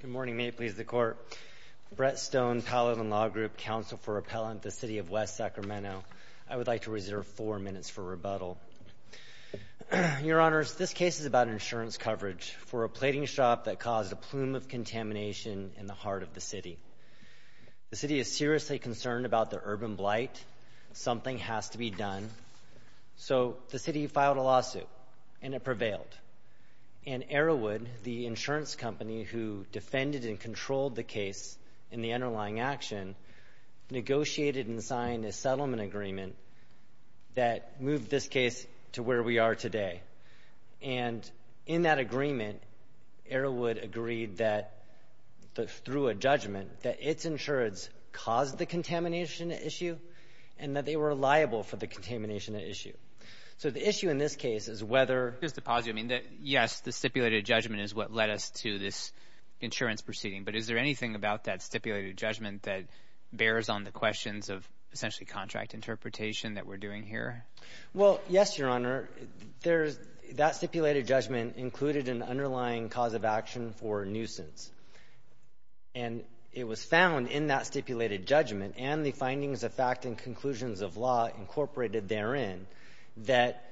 Good morning, may it please the court. Brett Stone, Paladin Law Group, counsel for Appellant, the City of West Sacramento. I would like to reserve four minutes for rebuttal. Your Honors, this case is about insurance coverage for a plating shop that caused a plume of contamination in the heart of the city. The city is seriously concerned about the urban blight. Something has to be done. So the city filed a lawsuit, and it prevailed. And Arrowood, the insurance company who defended and controlled the case and the underlying action, negotiated and signed a settlement agreement that moved this case to where we are today. And in that agreement, Arrowood agreed that, through a judgment, that its insurance caused the contamination issue and that they were liable for the contamination issue. So the issue in this case is whether just to pause you, I mean, yes, the stipulated judgment is what led us to this insurance proceeding. But is there anything about that stipulated judgment that bears on the questions of essentially contract interpretation that we're doing here? Well, yes, Your Honor. There's that stipulated judgment included an underlying cause of action for nuisance. And it was found in that stipulated judgment and the findings of fact and conclusions of law incorporated therein that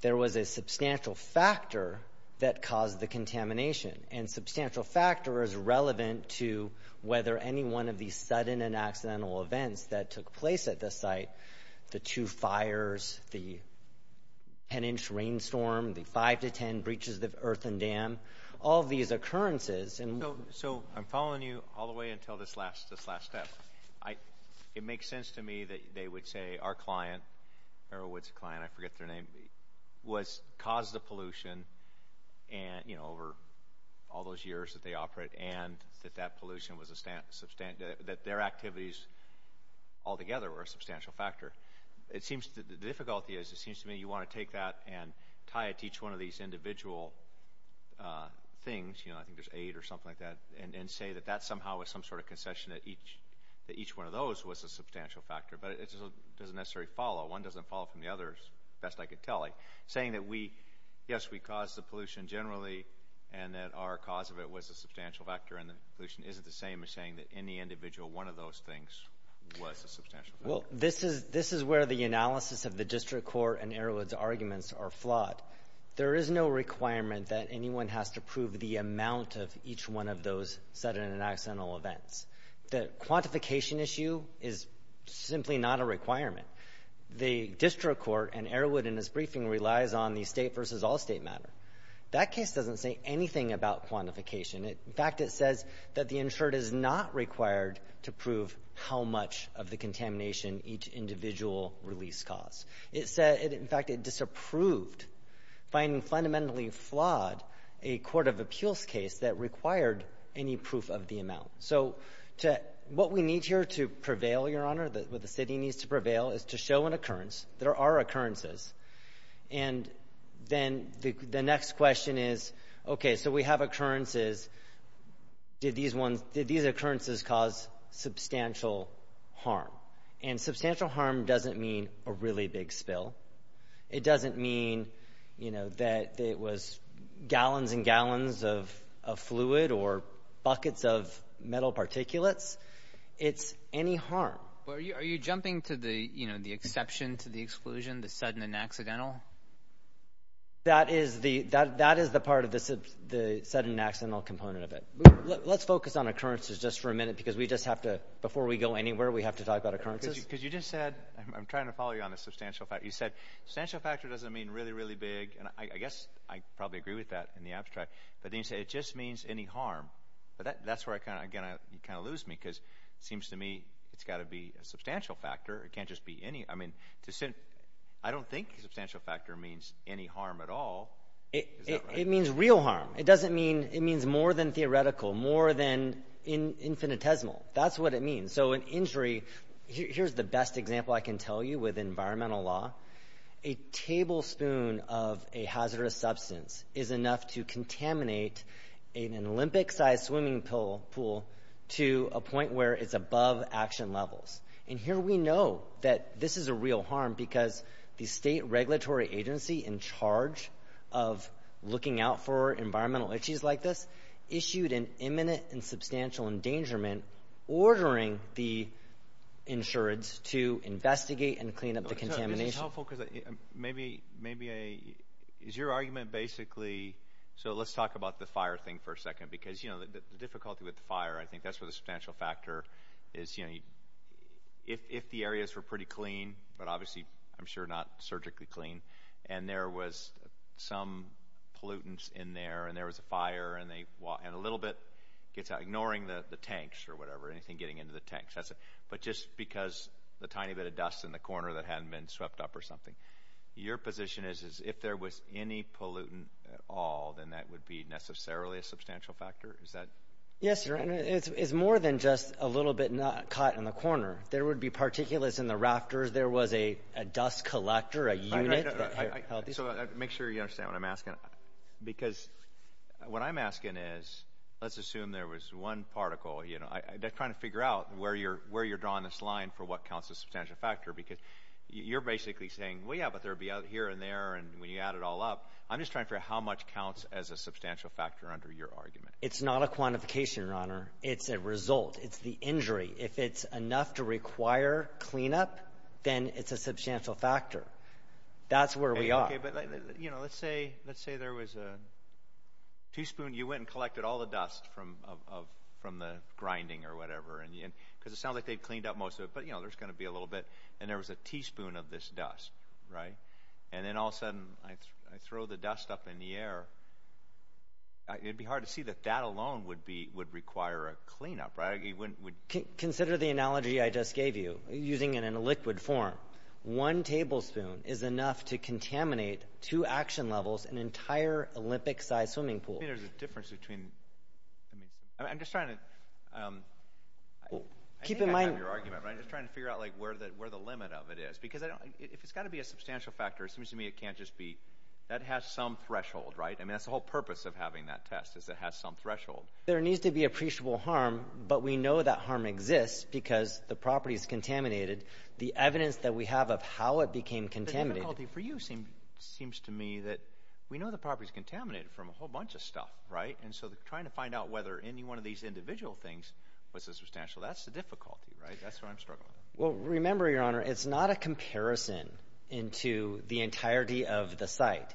there was a substantial factor that caused the contamination. And substantial factor is relevant to whether any one of these sudden and accidental events that took place at the site, the two fires, the 10-inch rainstorm, the 5 to 10 breaches of the earthen dam, all of these occurrences. So I'm following you all the way until this last step. It makes sense to me that they would say our client, Merrill Woods' client, I forget their name, caused the pollution over all those years that they operate and that that pollution was a substantial, that their activities altogether were a substantial factor. The difficulty is it seems to me you want to take that and tie it to each one of these individual things, you know, I think there's eight or something like that, and say that that somehow was some sort of concession that each one of those was a substantial factor. But it doesn't necessarily follow. One doesn't follow from the others, best I could tell you. Saying that we, yes, we caused the pollution generally and that our cause of it was a substantial factor and the pollution isn't the same as saying that any individual one of those things was a substantial factor. Well, this is where the analysis of the District Court and Erwin's arguments are flawed. There is no requirement that anyone has to prove the amount of each one of those sudden and the quantification issue is simply not a requirement. The District Court and Erwin in his briefing relies on the state versus all state matter. That case doesn't say anything about quantification. In fact, it says that the insured is not required to prove how much of the contamination each individual release caused. It said, in fact, it disapproved finding fundamentally flawed a court of appeals case that required any proof of the amount. So what we need here to prevail, Your Honor, what the city needs to prevail is to show an occurrence. There are occurrences. And then the next question is, okay, so we have occurrences. Did these occurrences cause substantial harm? And substantial harm doesn't mean a really big spill. It doesn't mean, you know, that it was gallons and gallons of fluid or buckets of metal particulates. It's any harm. Well, are you jumping to the, you know, the exception to the exclusion, the sudden and accidental? That is the part of the sudden and accidental component of it. Let's focus on occurrences just for a minute because we just have to, before we go anywhere, we have to talk about occurrences. Because you just said, I'm trying to follow you on the substantial fact. You said substantial factor doesn't mean really, really big. And I guess I probably agree with that in the That's where I kind of, again, I kind of lose me because it seems to me it's got to be a substantial factor. It can't just be any, I mean, I don't think substantial factor means any harm at all. It means real harm. It doesn't mean, it means more than theoretical, more than infinitesimal. That's what it means. So an injury, here's the best example I can tell you with environmental law. A tablespoon of a hazardous substance is enough to contaminate an Olympic-sized swimming pool to a point where it's above action levels. And here we know that this is a real harm because the state regulatory agency in charge of looking out for environmental issues like this issued an imminent and substantial endangerment ordering the insurance to investigate and clean up the contamination. Is this helpful? Because maybe, maybe a, is your argument basically, so let's talk about the fire thing for a second because, you know, the difficulty with the fire, I think that's where the substantial factor is, you know, if the areas were pretty clean, but obviously I'm sure not surgically clean, and there was some pollutants in there and there was a fire and they, and a little bit gets out, ignoring the tanks or whatever, anything getting into the tanks, that's a, but just because the tiny bit of dust in the corner that hadn't been swept up or something. Your position is, is if there was any pollutant at all, then that would be necessarily a substantial factor? Is that? Yes, your honor. It's more than just a little bit not caught in the corner. There would be particulates in the rafters. There was a dust collector, a unit that held these. So make sure you understand what I'm asking. Because what I'm asking is, let's assume there was one particle, you know, I'm trying to figure out where you're, where you're drawing this line for what counts as substantial factor, because you're basically saying, well, yeah, but there'll be out here and there. And when you add it all up, I'm just trying to figure out how much counts as a substantial factor under your argument. It's not a quantification, your honor. It's a result. It's the injury. If it's enough to require cleanup, then it's a substantial factor. That's where we are. Okay. But you know, let's say, let's say there was a teaspoon, you went and collected all the dust from, from the grinding or whatever. And because it sounds like they'd cleaned up most of it, but you know, there's going to be a little bit, and there was a teaspoon of this dust, right? And then all of a sudden I throw the dust up in the air. It'd be hard to see that that alone would be, would require a cleanup, right? Consider the analogy I just gave you, using it in a liquid form. One tablespoon is enough to contaminate two action levels, an entire Olympic-sized swimming pool. I think there's a difference between, I mean, I'm just trying to, I think I have your argument, right? I'm just trying to figure out, like, where the, where the limit of it is. Because I don't, if it's got to be a substantial factor, it seems to me it can't just be, that has some threshold, right? I mean, that's the whole purpose of having that test, is it has some threshold. There needs to be appreciable harm, but we know that harm exists because the property is contaminated. The evidence that we have of how it became contaminated. The difficulty for you seems, seems to me that we know the property's contaminated from a whole bunch of stuff, right? And so trying to find out whether any one of these individual things was a substantial, that's the difficulty, right? That's what I'm struggling with. Well, remember, Your Honor, it's not a comparison into the entirety of the site.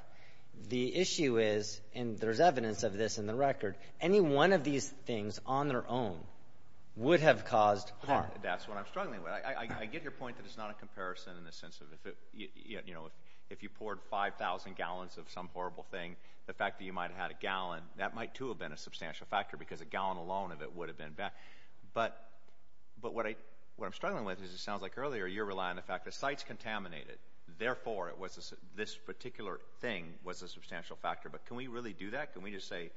The issue is, and there's evidence of this in the record, any one of these things on their own would have caused harm. That's what I'm struggling with. I get your point that it's not a comparison in the sense of if it, you know, if you poured 5,000 gallons of some horrible thing, the fact that you might have had a gallon, that might too have been a substantial factor because a gallon alone of it would have been bad. But, but what I, what I'm struggling with is it sounds like earlier you're relying on the fact that the site's contaminated. Therefore, it was, this particular thing was a substantial factor. But can we really do that? Can we just say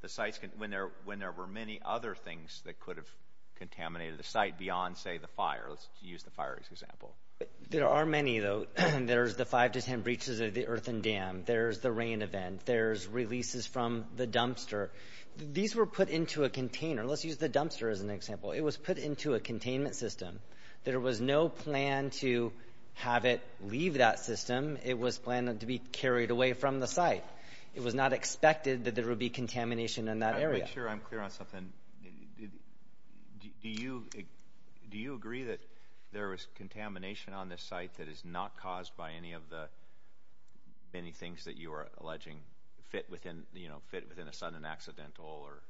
the site's, when there, when there were many other things that could have contaminated the site beyond, say, the fire. Let's use the fire as an example. There are many, though. There's the five to ten breaches of the earthen dam. There's the container. Let's use the dumpster as an example. It was put into a containment system. There was no plan to have it leave that system. It was planned to be carried away from the site. It was not expected that there would be contamination in that area. I'm not sure I'm clear on something. Do you, do you agree that there was contamination on this site that is not caused by any of the, any things that you are alleging fit within, you know, fit within a sudden accidental or?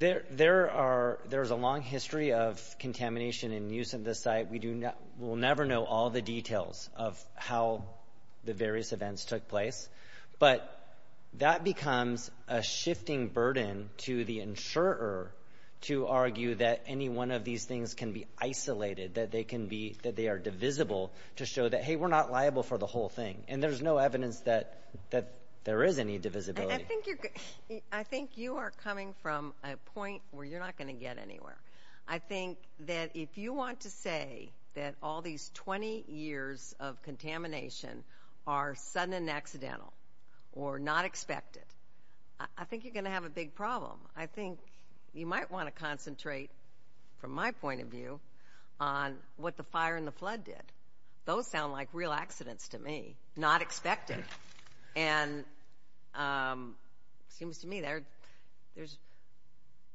There, there are, there's a long history of contamination and use of this site. We do, we'll never know all the details of how the various events took place. But that becomes a shifting burden to the insurer to argue that any one of these things can be isolated, that they can be, that they are divisible to show that, hey, we're not liable for the whole thing. And there's no evidence that, that there is any divisibility. I think you're, I think you are coming from a point where you're not going to get anywhere. I think that if you want to say that all these 20 years of contamination are sudden and accidental or not expected, I think you're going to have a big problem. I think you might want to concentrate from my point of view on what the fire and the flood did. Those sound like real accidents to me, not expected. And it seems to me there, there's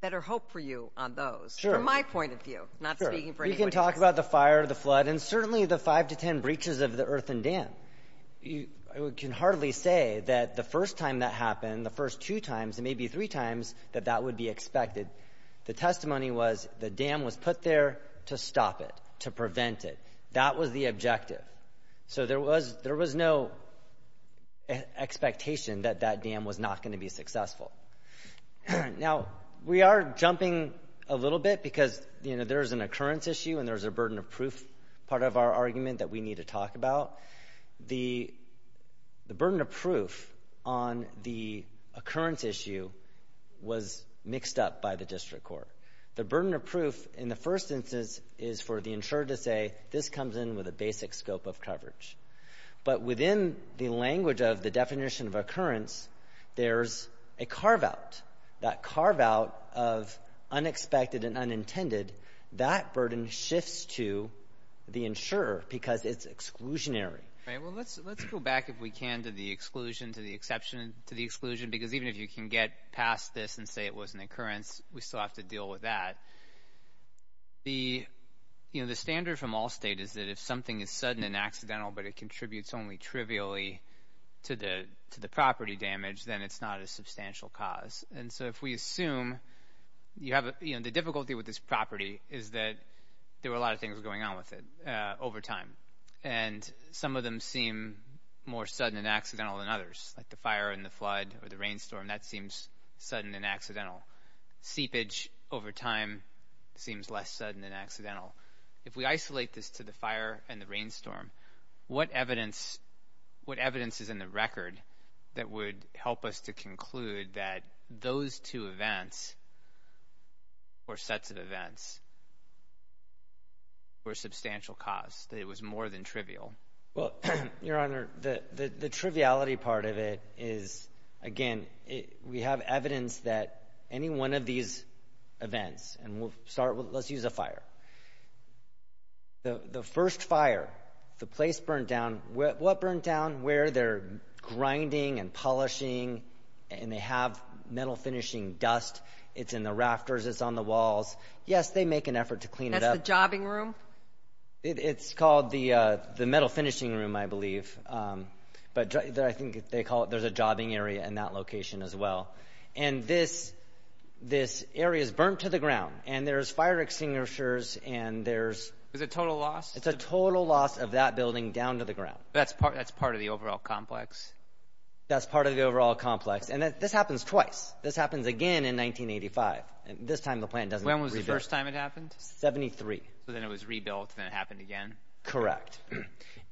better hope for you on those. Sure. From my point of view, not speaking for anyone else. We can talk about the fire, the flood, and certainly the five to 10 breaches of the earthen dam. You can hardly say that the first time that happened, the first two times, and maybe three times that that would be expected. The testimony was the dam was put there to stop it, to prevent it. That was the objective. So there was, there was no expectation that that dam was not going to be successful. Now we are jumping a little bit because, you know, there's an occurrence issue and there's a burden of proof part of our argument that we need to talk about. The burden of proof on the occurrence issue was mixed up by the district court. The burden of proof in the basic scope of coverage. But within the language of the definition of occurrence, there's a carve out, that carve out of unexpected and unintended, that burden shifts to the insurer because it's exclusionary. Right. Well, let's, let's go back if we can to the exclusion, to the exception, to the exclusion, because even if you can get past this and say it was an occurrence, we still have to deal with that. The, you know, the standard from all data is that if something is sudden and accidental, but it contributes only trivially to the, to the property damage, then it's not a substantial cause. And so if we assume you have, you know, the difficulty with this property is that there were a lot of things going on with it over time. And some of them seem more sudden and accidental than others, like the fire and the flood or the rainstorm, that seems sudden and accidental. Seepage over time seems less sudden and accidental. If we isolate this to the fire and the rainstorm, what evidence, what evidence is in the record that would help us to conclude that those two events or sets of events were substantial cause, that it was more than trivial? Well, Your Honor, the, the, the triviality part of it is, again, it, we have evidence that any one of these events, and we'll start with, let's use a fire. The, the first fire, the place burned down, what burned down? Where they're grinding and polishing, and they have metal finishing dust. It's in the rafters, it's on the walls. Yes, they make an effort to clean it up. That's the jobbing room? It's called the, the metal finishing room, I believe. But I think they call it, there's a jobbing area in that location as well. And this, this area's burnt to the ground, and there's fire extinguishers, and there's... Is it total loss? It's a total loss of that building down to the ground. That's part, that's part of the overall complex? That's part of the overall complex. And this happens twice. This happens again in 1985. This time the plant doesn't... When was the first time it happened? Seventy-three. So then it was rebuilt, and then it happened again? Correct.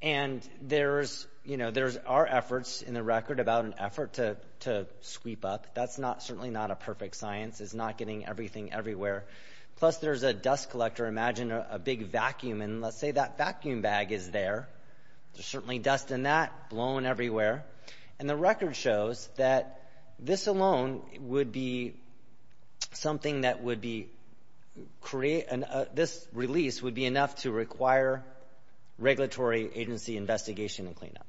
And there's, you know, there's our efforts in the record about an effort to, to sweep up. That's not, certainly not a perfect science. It's not getting everything everywhere. Plus there's a dust collector. Imagine a big vacuum, and let's say that vacuum bag is there. There's certainly dust in that, blown everywhere. And the record shows that this alone would be something that would be create, this release would be enough to require regulatory agency investigation and cleanup.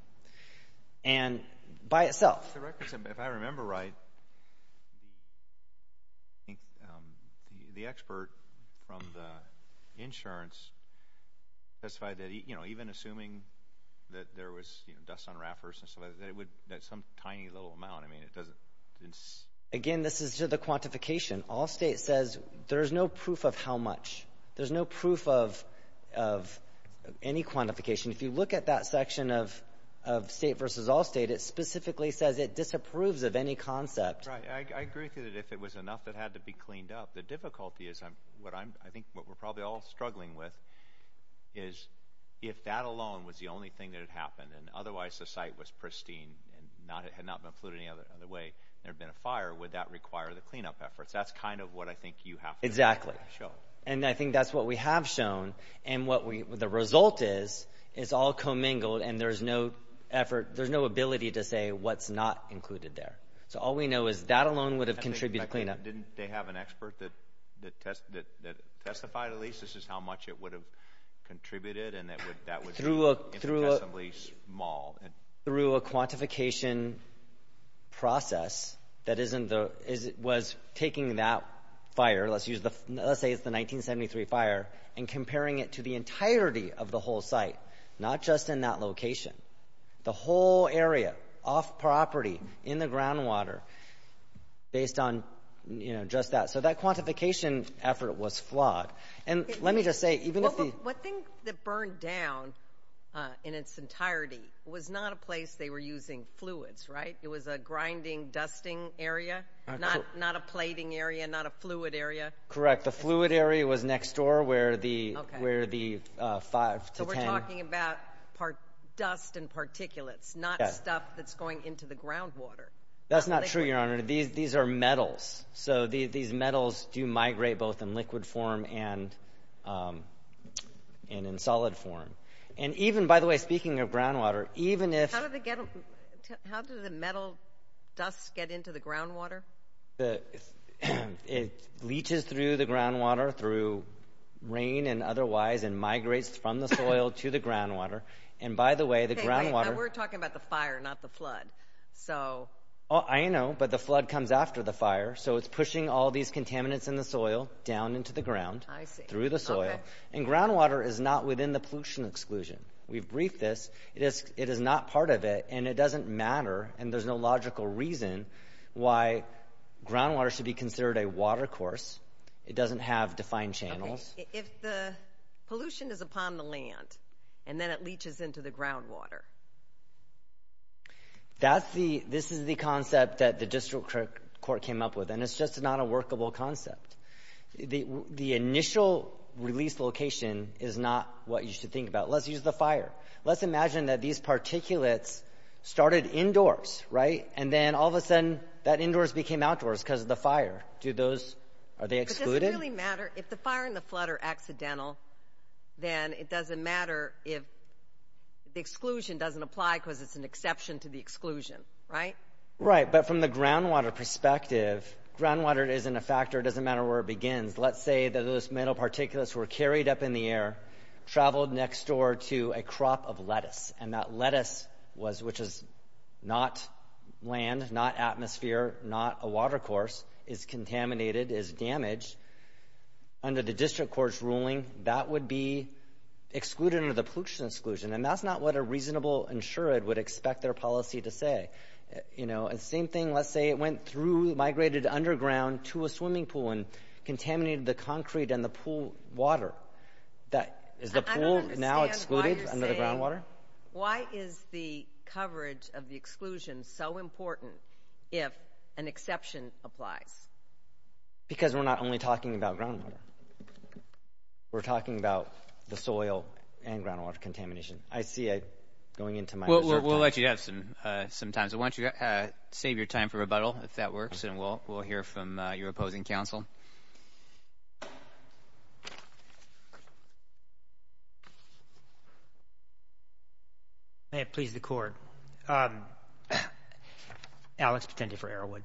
And by itself... The records, if I remember right, I think the expert from the insurance specified that, you know, even assuming that there was, you know, dust on wrappers and so that it would, that some tiny little amount, I mean, it doesn't... Again, this is to the proof of how much. There's no proof of, of any quantification. If you look at that section of, of state versus all state, it specifically says it disapproves of any concept. Right. I, I agree with you that if it was enough that it had to be cleaned up, the difficulty is I'm, what I'm, I think what we're probably all struggling with is if that alone was the only thing that had happened, and otherwise the site was pristine, and not, it had not been flooded any other way, there had been a fire, would that require the cleanup efforts? That's kind of what I think you have to show. Exactly. And I think that's what we have shown, and what we, the result is, is all commingled, and there's no effort, there's no ability to say what's not included there. So all we know is that alone would have contributed to cleanup. Didn't they have an expert that, that test, that, that testified, at least, this is how much it would have contributed, and that would, that would... Through a, through a... Imprecisely small. Through a quantification process that isn't the, is, was taking the that fire, let's use the, let's say it's the 1973 fire, and comparing it to the entirety of the whole site, not just in that location. The whole area, off property, in the ground water, based on, you know, just that. So that quantification effort was flawed. And let me just say, even if the... What thing that burned down, in its entirety, was not a place they were using fluids, right? It was a grinding, dusting area? Not, not a plating area, not a fluid area? Correct. The fluid area was next door, where the, where the five to ten... So we're talking about part, dust and particulates, not stuff that's going into the ground water. That's not true, Your Honor. These, these are metals. So the, these metals do migrate both in liquid form and, and in solid form. And even, by the way, speaking of ground water, even if... How do they get, how do the metal dust get into the ground water? The, it leaches through the ground water, through rain and otherwise, and migrates from the soil to the ground water. And by the way, the ground water... Hey, wait, we're talking about the fire, not the flood. So... Oh, I know, but the flood comes after the fire. So it's pushing all these contaminants in the soil down into the ground. I see. Through the soil. And ground water is not within the pollution exclusion. We've briefed this. It is, it is not part of it, and it doesn't matter, and there's no logical reason why ground water should be considered a water course. It doesn't have defined channels. Okay. If the pollution is upon the land, and then it leaches into the ground water. That's the, this is the concept that the district court came up with, and it's just not a workable concept. The, the initial release location is not what you should think about. Let's use the fire. Let's imagine that these particulates started indoors, right? And then all of a sudden, that indoors became outdoors because of the fire. Do those, are they excluded? But does it really matter? If the fire and the flood are accidental, then it doesn't matter if the exclusion doesn't apply because it's an exception to the exclusion, right? Right, but from the ground water perspective, if ground water isn't a factor, it doesn't matter where it begins. Let's say that those metal particulates were carried up in the air, traveled next door to a crop of lettuce, and that lettuce was, which is not land, not atmosphere, not a water course, is contaminated, is damaged. Under the district court's ruling, that would be excluded under the pollution exclusion, and that's not what a reasonable insured would expect their policy to say. You know, and same thing, let's say it went through, migrated underground to a swimming pool and contaminated the concrete and the pool water. That, is the pool now excluded under the ground water? I don't understand why you're saying, why is the coverage of the exclusion so important if an exception applies? Because we're not only talking about ground water. We're talking about the soil and ground water contamination. I see it going into my reserve pocket. We'll let you have some time, so why don't you save your time for rebuttal, if that works, and we'll hear from your opposing counsel. May it please the court. Alex Petente for Arrowwood.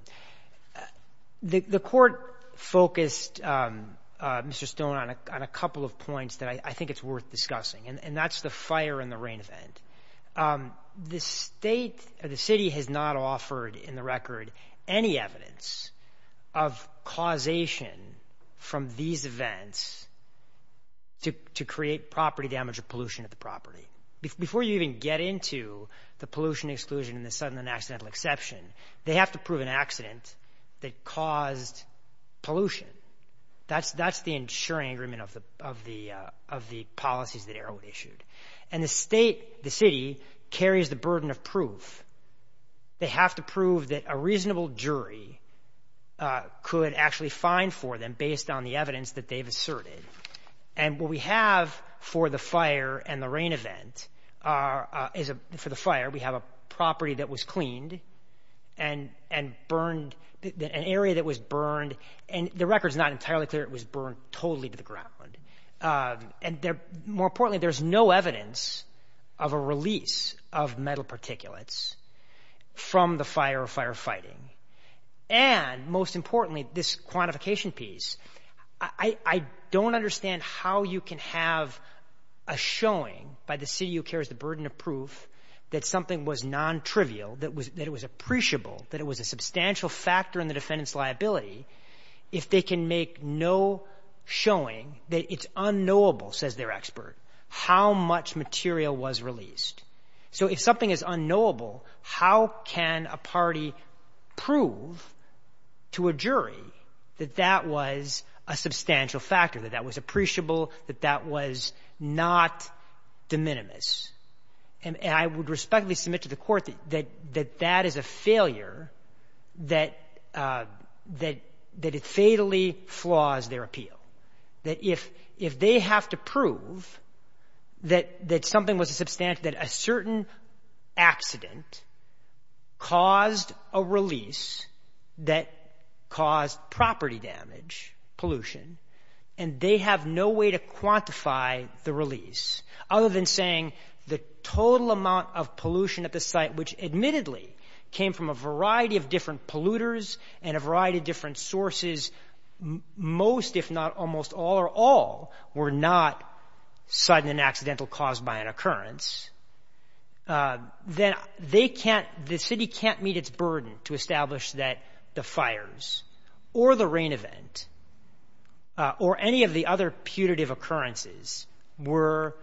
The court focused, Mr. Stone, on a couple of points that I think it's worth discussing, and that's the fire and the rain event. The state, or the city, has not offered, in the record, any evidence of causation from these events to create property damage or pollution at the property. Before you even get into the pollution exclusion and the sudden and accidental exception, they have to prove an accident that caused pollution. That's the insuring agreement of the policies that Arrowwood issued. The state, the city, carries the burden of proof. They have to prove that a reasonable jury could actually find for them, based on the evidence that they've asserted. What we have for the fire and the rain event, for the fire, we have a property that was cleaned and burned, an area that was burned, and the record's not entirely clear, it was burned totally to the ground. More importantly, there's no evidence of a release of metal particulates from the fire or firefighting. Most importantly, this quantification piece, I don't understand how you can have a showing by the city who carries the burden of proof that something was nontrivial, that it was appreciable, that it was a substantial factor in the defendant's liability, if they can make no showing that it's unknowable, says their expert, how much material was released. So if something is unknowable, how can a party prove to a jury that that was a substantial factor, that that was appreciable, that that was not de minimis? And I would respectfully submit to the Court that that is a failure, that it fatally flaws their appeal, that if they have to prove that something was a substantial, that a certain accident caused a release that caused property damage, pollution, and they have no way to the total amount of pollution at the site, which admittedly came from a variety of different polluters and a variety of different sources, most if not almost all or all were not sudden and accidental caused by an occurrence, then they can't, the city can't meet its burden to establish that the fires or the rain event or any of the other putative occurrences were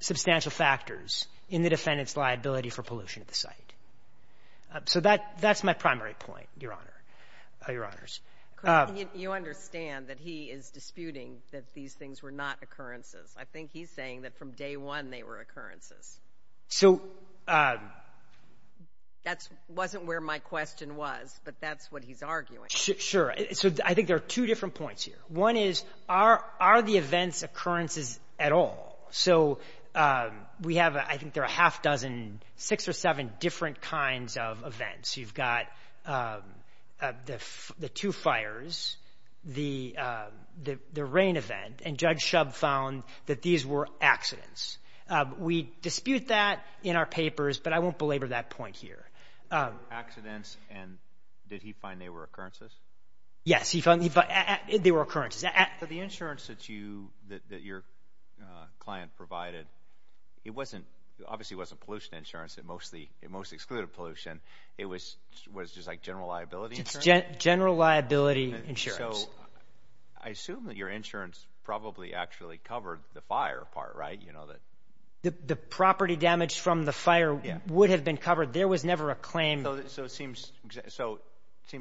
substantial factors in the defendant's liability for pollution at the site. So that's my primary point, Your Honor, Your Honors. You understand that he is disputing that these things were not occurrences. I think he's saying that from day one they were occurrences. So that's wasn't where my question was, but that's what he's arguing. Sure. So I think there are two different points here. One is, are the events occurrences at all? So we have, I think there are a half dozen, six or seven different kinds of events. You've got the two fires, the rain event, and Judge Shub found that these were accidents. We dispute that in our papers, but I won't belabor that point here. Accidents and did he find they were occurrences? Yes, he found they were occurrences. The insurance that your client provided, it obviously wasn't pollution insurance. It most excluded pollution. It was just like general liability insurance? General liability insurance. I assume that your insurance probably actually covered the fire part, right? The property damage from the fire would have been covered. There was never a claim. So it seems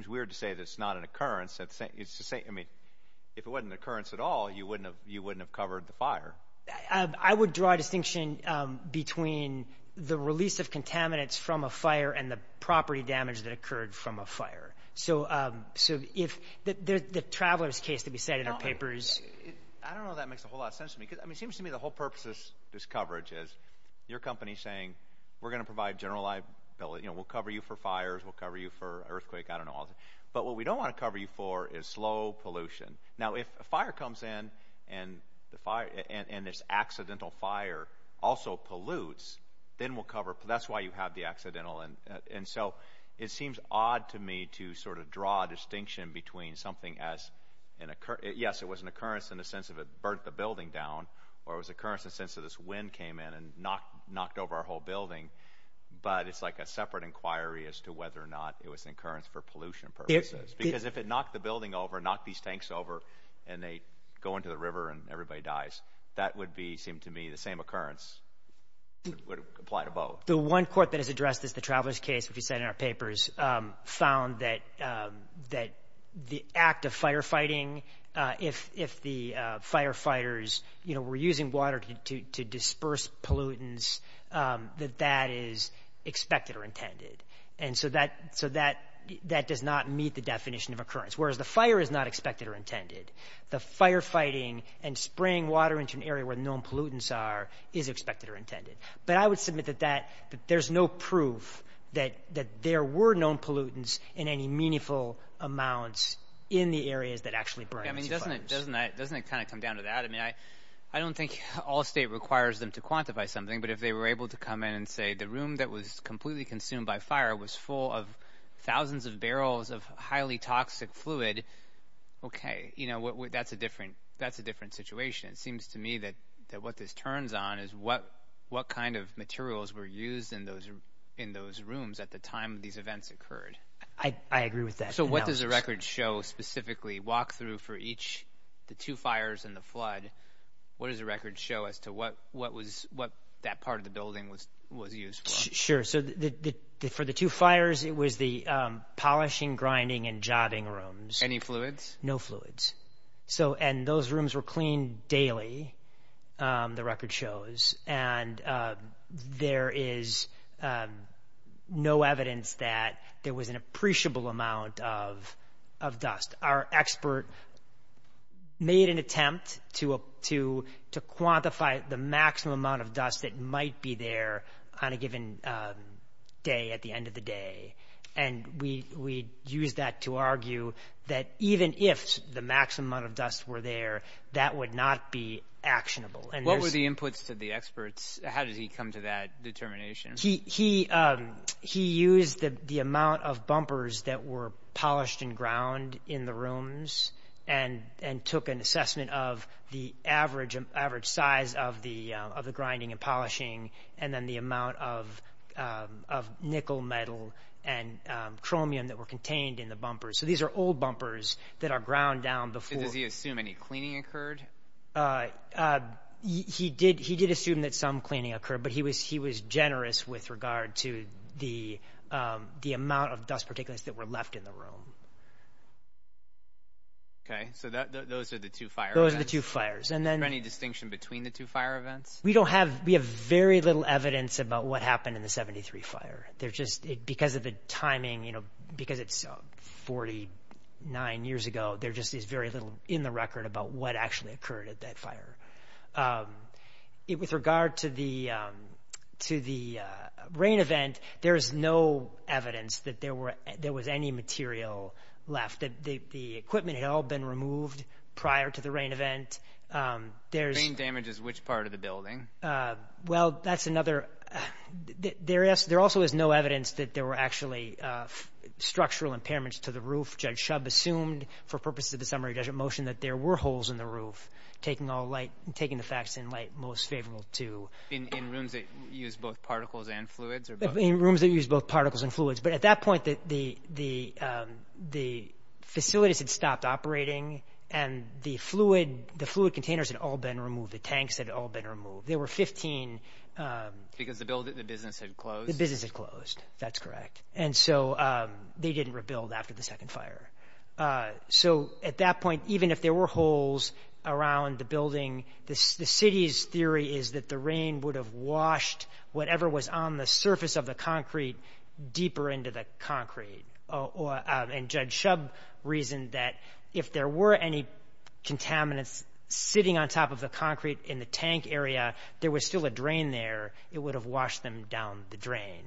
weird to say that it's not an occurrence. If it wasn't an occurrence at all, you wouldn't have covered the fire. I would draw a distinction between the release of contaminants from a fire and the property damage that occurred from a fire. So the traveler's case, to be said, in our papers... I don't know if that makes a whole lot of sense to me, because it seems to me the whole purpose of this coverage is your company saying, we're going to provide general liability, we'll cover you for fires, we'll cover you for earthquakes, I don't know. But what we don't want to cover you for is slow pollution. Now if a fire comes in and this accidental fire also pollutes, then we'll cover it. That's why you have the accidental. And so it seems odd to me to sort of draw a distinction between something as an occurrence. Yes, it was an occurrence in the sense that it burnt the building down, or it was an occurrence in the sense that this wind came in and knocked over our whole building. But it's like a separate inquiry as to whether or not it was an occurrence for pollution purposes. Because if it knocked the building over, knocked these tanks over, and they go into the river and everybody dies, that would be, it seems to me, the same occurrence. It would apply to both. The one court that has addressed this, the traveler's case, which you said in our papers, found that the act of firefighting, if the firefighters were using water to disperse pollutants, that that is expected or intended. And so that does not meet the definition of occurrence. Whereas the fire is not expected or intended. The firefighting and spraying water into an area where known pollutants are is expected or intended. But I would submit that there's no proof that there were known pollutants in any meaningful amounts in the areas that actually burned these fires. I mean, doesn't it kind of come down to that? I mean, I don't think all state requires them to quantify something, but if they were able to come in and say the room that was completely consumed by fire was full of thousands of barrels of highly toxic fluid, okay, you know, that's a different situation. It seems to me that what this turns on is what kind of materials were used in those rooms at the time these events occurred. I agree with that. So what does the record show specifically? Walk through for each, the two fires and the flood. What does the record show as to what that part of the building was used for? Sure. So for the two fires, it was the polishing, grinding, and jobbing rooms. Any fluids? No fluids. And those rooms were cleaned daily, the record shows. And there is no evidence that there was an appreciable amount of dust. Our expert made an attempt to quantify the maximum amount of dust that might be there on a given day at the end of the day. And we used that to argue that even if the maximum amount of dust were there, that would not be actionable. What were the inputs to the experts? How did he come to that determination? He used the amount of bumpers that were polished and ground in the rooms and took an assessment of the average size of the grinding and polishing and then the amount of nickel, metal, and chromium that were contained in the bumpers. So these are old bumpers that are ground down before... Did he assume any cleaning occurred? He did assume that some cleaning occurred, but he was generous with regard to the amount of dust particulates that were left in the room. Okay. So those are the two fire events? Those are the two fires. And then... Is there any distinction between the two fire events? We have very little evidence about what happened in the 73 fire. Because of the timing, because it's 49 years ago, there just is very little in the record about what actually occurred at that fire. With regard to the rain event, there is no evidence that there was any material left. The equipment had all been removed prior to the rain event. Well, that's another... There also is no evidence that there were actually structural impairments to the roof. Judge Shub assumed, for purposes of the summary judgment motion, that there were holes in the roof, taking the facts in light most favorable to... In rooms that used both particles and fluids? In rooms that used both particles and fluids. But at that point, the facilities had stopped operating and the fluid containers had all been removed. The tanks had all been removed. There were 15... Because the business had closed? The business had closed. That's correct. And so they didn't rebuild after the second fire. So at that point, even if there were holes around the building, the city's theory is that the rain would have washed whatever was on the surface of the concrete deeper into the concrete. And Judge Shub reasoned that if there were any contaminants sitting on top of the concrete in the tank area, there was still a drain there, it would have washed them down the drain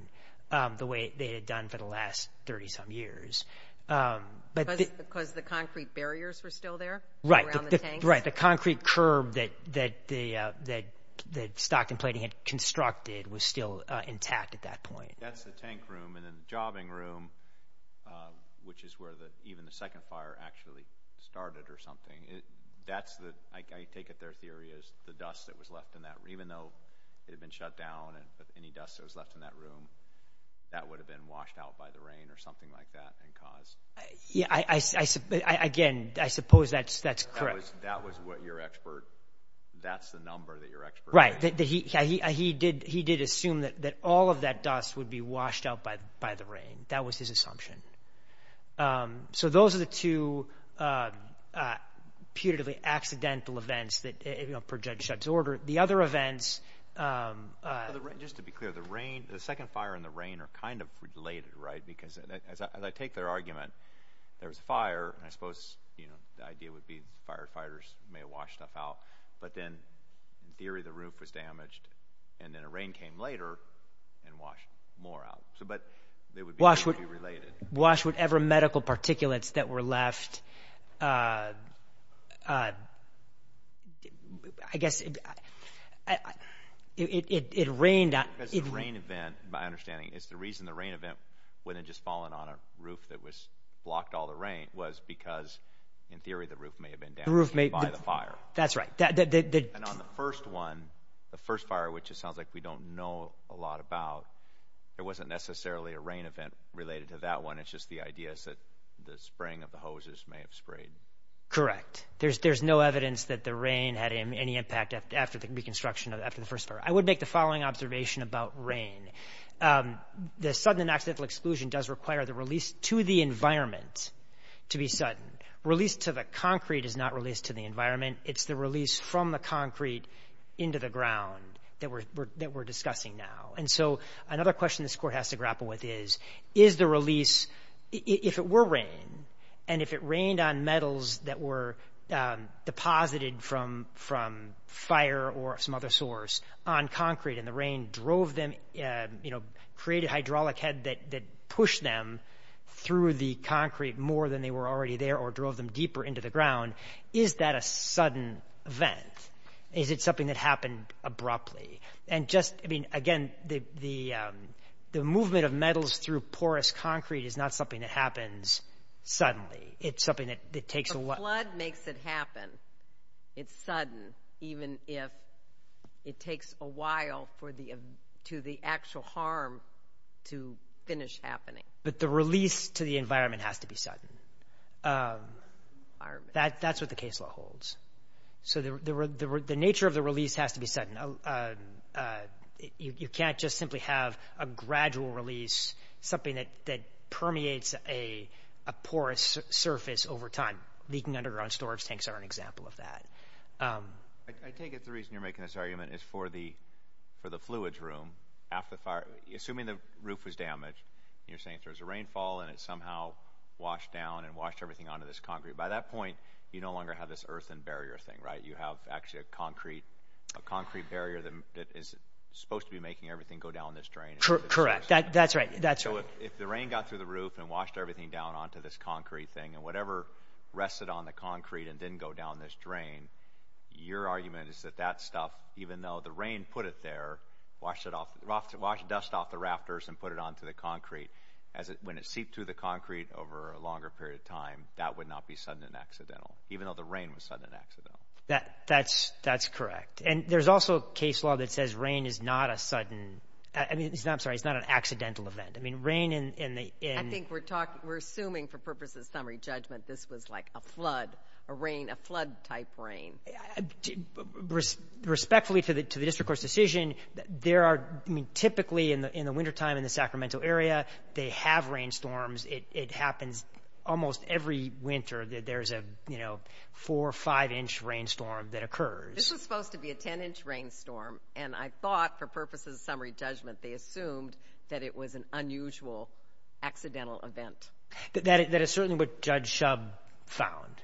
the way they had done for the last 30-some years. Because the concrete barriers were still there around the tanks? Right. The concrete curb that Stockton Plating had constructed was still intact at that point. That's the tank room. And then the jobbing room, which is where even the second fire actually started or something, I take it their theory is the dust that was left in that room, even though it had been shut down and any dust that was left in that room, that would have been washed out by the rain or something like that and caused... Again, I suppose that's correct. That was what your expert... That's the number that your expert... He did assume that all of that dust would be washed out by the rain. That was his assumption. So, those are the two putatively accidental events per Judge Shub's order. The other events... Just to be clear, the rain, the second fire and the rain are kind of related, right? Because as I take their argument, there was a fire, and I suppose the idea would be firefighters may have washed stuff out, but then in theory the roof was damaged and then a rain came later and washed more out. So, but they would be related. Wash whatever medical particulates that were left. I guess it rained... Because the rain event, my understanding is the reason the rain event wouldn't have just fallen on a roof that was blocked all the rain was because in theory the roof may have been damaged by the fire. That's right. And on the first one, the first fire, which it sounds like we don't know a lot about, it wasn't necessarily a rain event related to that one. It's just the idea is that the spring of the hoses may have sprayed. Correct. There's no evidence that the rain had any impact after the reconstruction of the first fire. I would make the following observation about rain. The sudden and accidental exclusion does require the release to the environment to be sudden. Release to the concrete is not release to the environment. It's the release from the concrete into the ground that we're discussing now. And so another question this court has to grapple with is, is the release, if it were rain and if it rained on metals that were deposited from fire or some other source on concrete and the rain drove them, created hydraulic head that pushed them through the concrete more than they were already there or drove them deeper into the ground. Is that a sudden event? Is it something that happened abruptly? And just, I mean, again, the movement of metals through porous concrete is not something that happens suddenly. It's something that takes a while. The flood makes it happen. It's sudden, even if it takes a while for the, to the actual harm to finish happening. But the release to the environment has to be sudden. That's what the case law holds. So the nature of the release has to be sudden. You can't just simply have a gradual release, something that permeates a porous surface over time. Leaking underground storage tanks are an example of that. I take it the reason you're making this argument is for the, for the fluids room, half the fire, assuming the roof was damaged and you're saying there was a rainfall and it somehow washed down and washed everything onto this concrete. By that point, you no longer have this earthen barrier thing, right? You have actually a concrete, a concrete barrier that is supposed to be making everything go down this drain. Correct. That's right. That's right. So if the rain got through the roof and washed everything down onto this concrete thing and whatever rested on the concrete and didn't go down this drain, your argument is that that stuff, even though the rain put it there, washed it off, washed dust off the rafters would not be sudden and accidental, even though the rain was sudden and accidental. That's correct. And there's also a case law that says rain is not a sudden, I'm sorry, it's not an accidental event. I mean, rain in the... I think we're talking, we're assuming for purposes of summary judgment, this was like a flood, a rain, a flood type rain. Respectfully to the district court's decision, there are, I mean, typically in the wintertime in the Sacramento area, they have rainstorms. It happens almost every winter that there's a, you know, four or five inch rainstorm that occurs. This was supposed to be a 10 inch rainstorm. And I thought for purposes of summary judgment, they assumed that it was an unusual accidental event. That is certainly what Judge Shub found.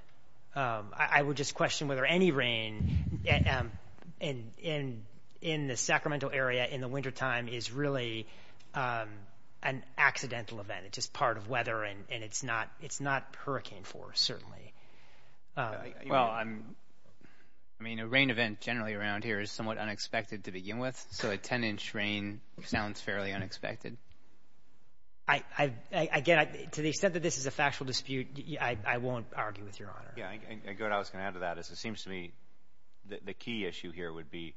I would just question whether any rain in the Sacramento area in the wintertime is really an accidental event. It's just part of weather and it's not hurricane force, certainly. Well, I mean, a rain event generally around here is somewhat unexpected to begin with. So a 10 inch rain sounds fairly unexpected. I get it. To the extent that this is a factual dispute, I won't argue with Your Honor. Yeah, and Gordon, I was going to add to that is it seems to me that the key issue here would be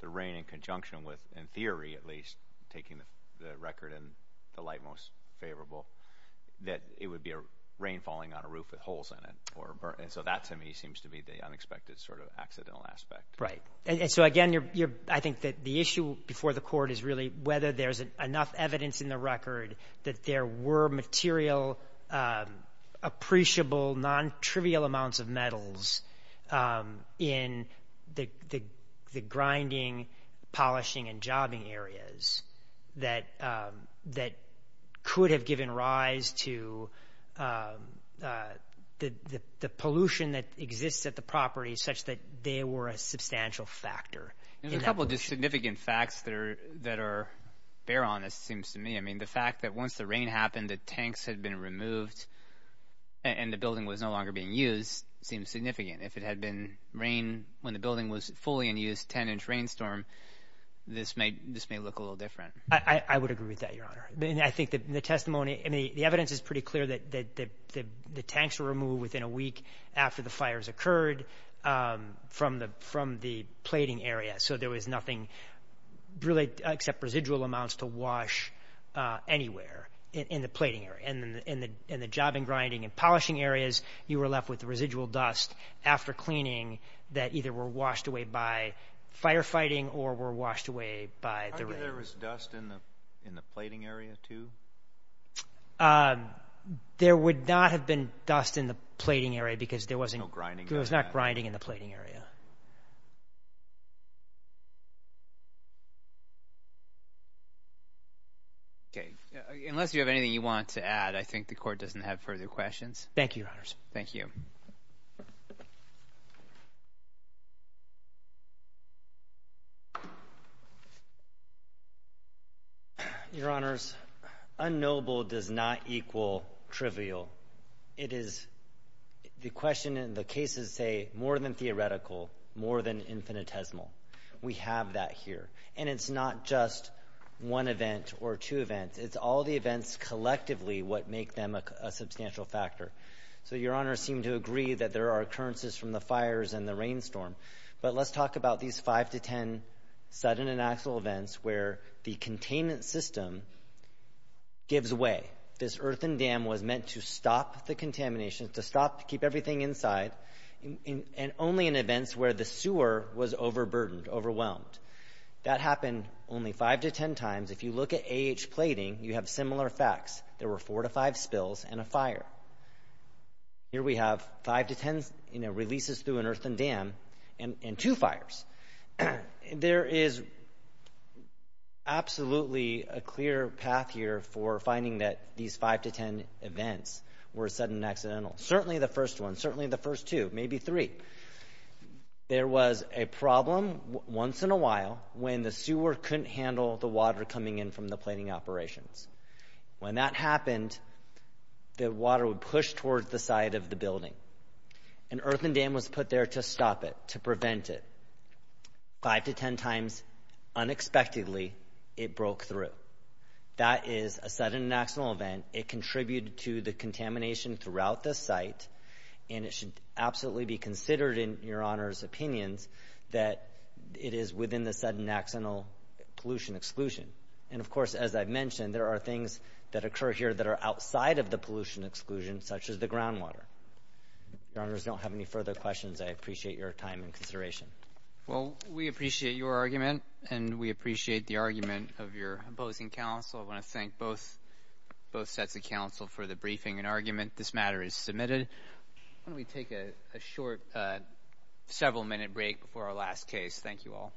the rain in conjunction with, in theory at least, taking the record in the light most favorable, that it would be rain falling on a roof with holes in it. And so that to me seems to be the unexpected sort of accidental aspect. Right. And so again, I think that the issue before the court is really whether there's enough evidence in the record that there were material appreciable, non-trivial amounts of metals in the grinding, polishing, and jobbing areas that could have given rise to the pollution that exists at the property such that they were a substantial factor. There's a couple of just significant facts that are fair on this, it seems to me. I mean, the fact that once the rain happened, the tanks had been removed and the building was no longer being used seems significant. If it had been rain when the building was fully in use, 10-inch rainstorm, this may look a little different. I would agree with that, Your Honor. I think the testimony, I mean, the evidence is pretty clear that the tanks were removed within a week after the fires occurred from the plating area, so there was nothing really except residual amounts to wash anywhere in the plating area, in the jobbing, grinding, and polishing areas. You were left with residual dust after cleaning that either were washed away by firefighting or were washed away by the rain. However, there was dust in the plating area, too? There would not have been dust in the plating area because there was no grinding in the plating area. Okay. Unless you have anything you want to add, I think the court doesn't have further questions. Thank you, Your Honors. Thank you. Your Honors, unknowable does not equal trivial. It is the question in the cases say more than theoretical, more than infinitesimal. We have that here. And it's not just one event or two events. It's all the events collectively what make them a substantial factor. So, Your Honors seem to agree that there are occurrences from the fires and the rainstorm. But let's talk about these five to ten sudden and actual events where the containment system gives away. This earthen dam was meant to stop the contamination, to stop, keep everything inside, and only in events where the sewer was overburdened, overwhelmed. That happened only five to ten times. If you look at AH plating, you have similar facts. There were four to five spills and a fire. Here we have five to ten releases through an earthen dam and two fires. There is absolutely a clear path here for finding that these five to ten events were sudden and accidental. Certainly the first one. Certainly the first two. Maybe three. There was a problem once in a while when the sewer couldn't handle the water coming in from the plating operations. When that happened, the water would push towards the side of the building. An earthen dam was put there to stop it, to prevent it. Five to ten times, unexpectedly, it broke through. That is a sudden and accidental event. It contributed to the contamination throughout the site. It should absolutely be considered in your Honor's opinions that it is within the sudden and accidental pollution exclusion. As I mentioned, there are things that occur here that are outside of the pollution exclusion, such as the groundwater. If your Honors don't have any further questions, I appreciate your time and consideration. We appreciate your argument. We appreciate the argument of your opposing counsel. I want to thank both sets of counsel for the briefing and argument. This matter is submitted. Why don't we take a short several minute break before our last case. Thank you all.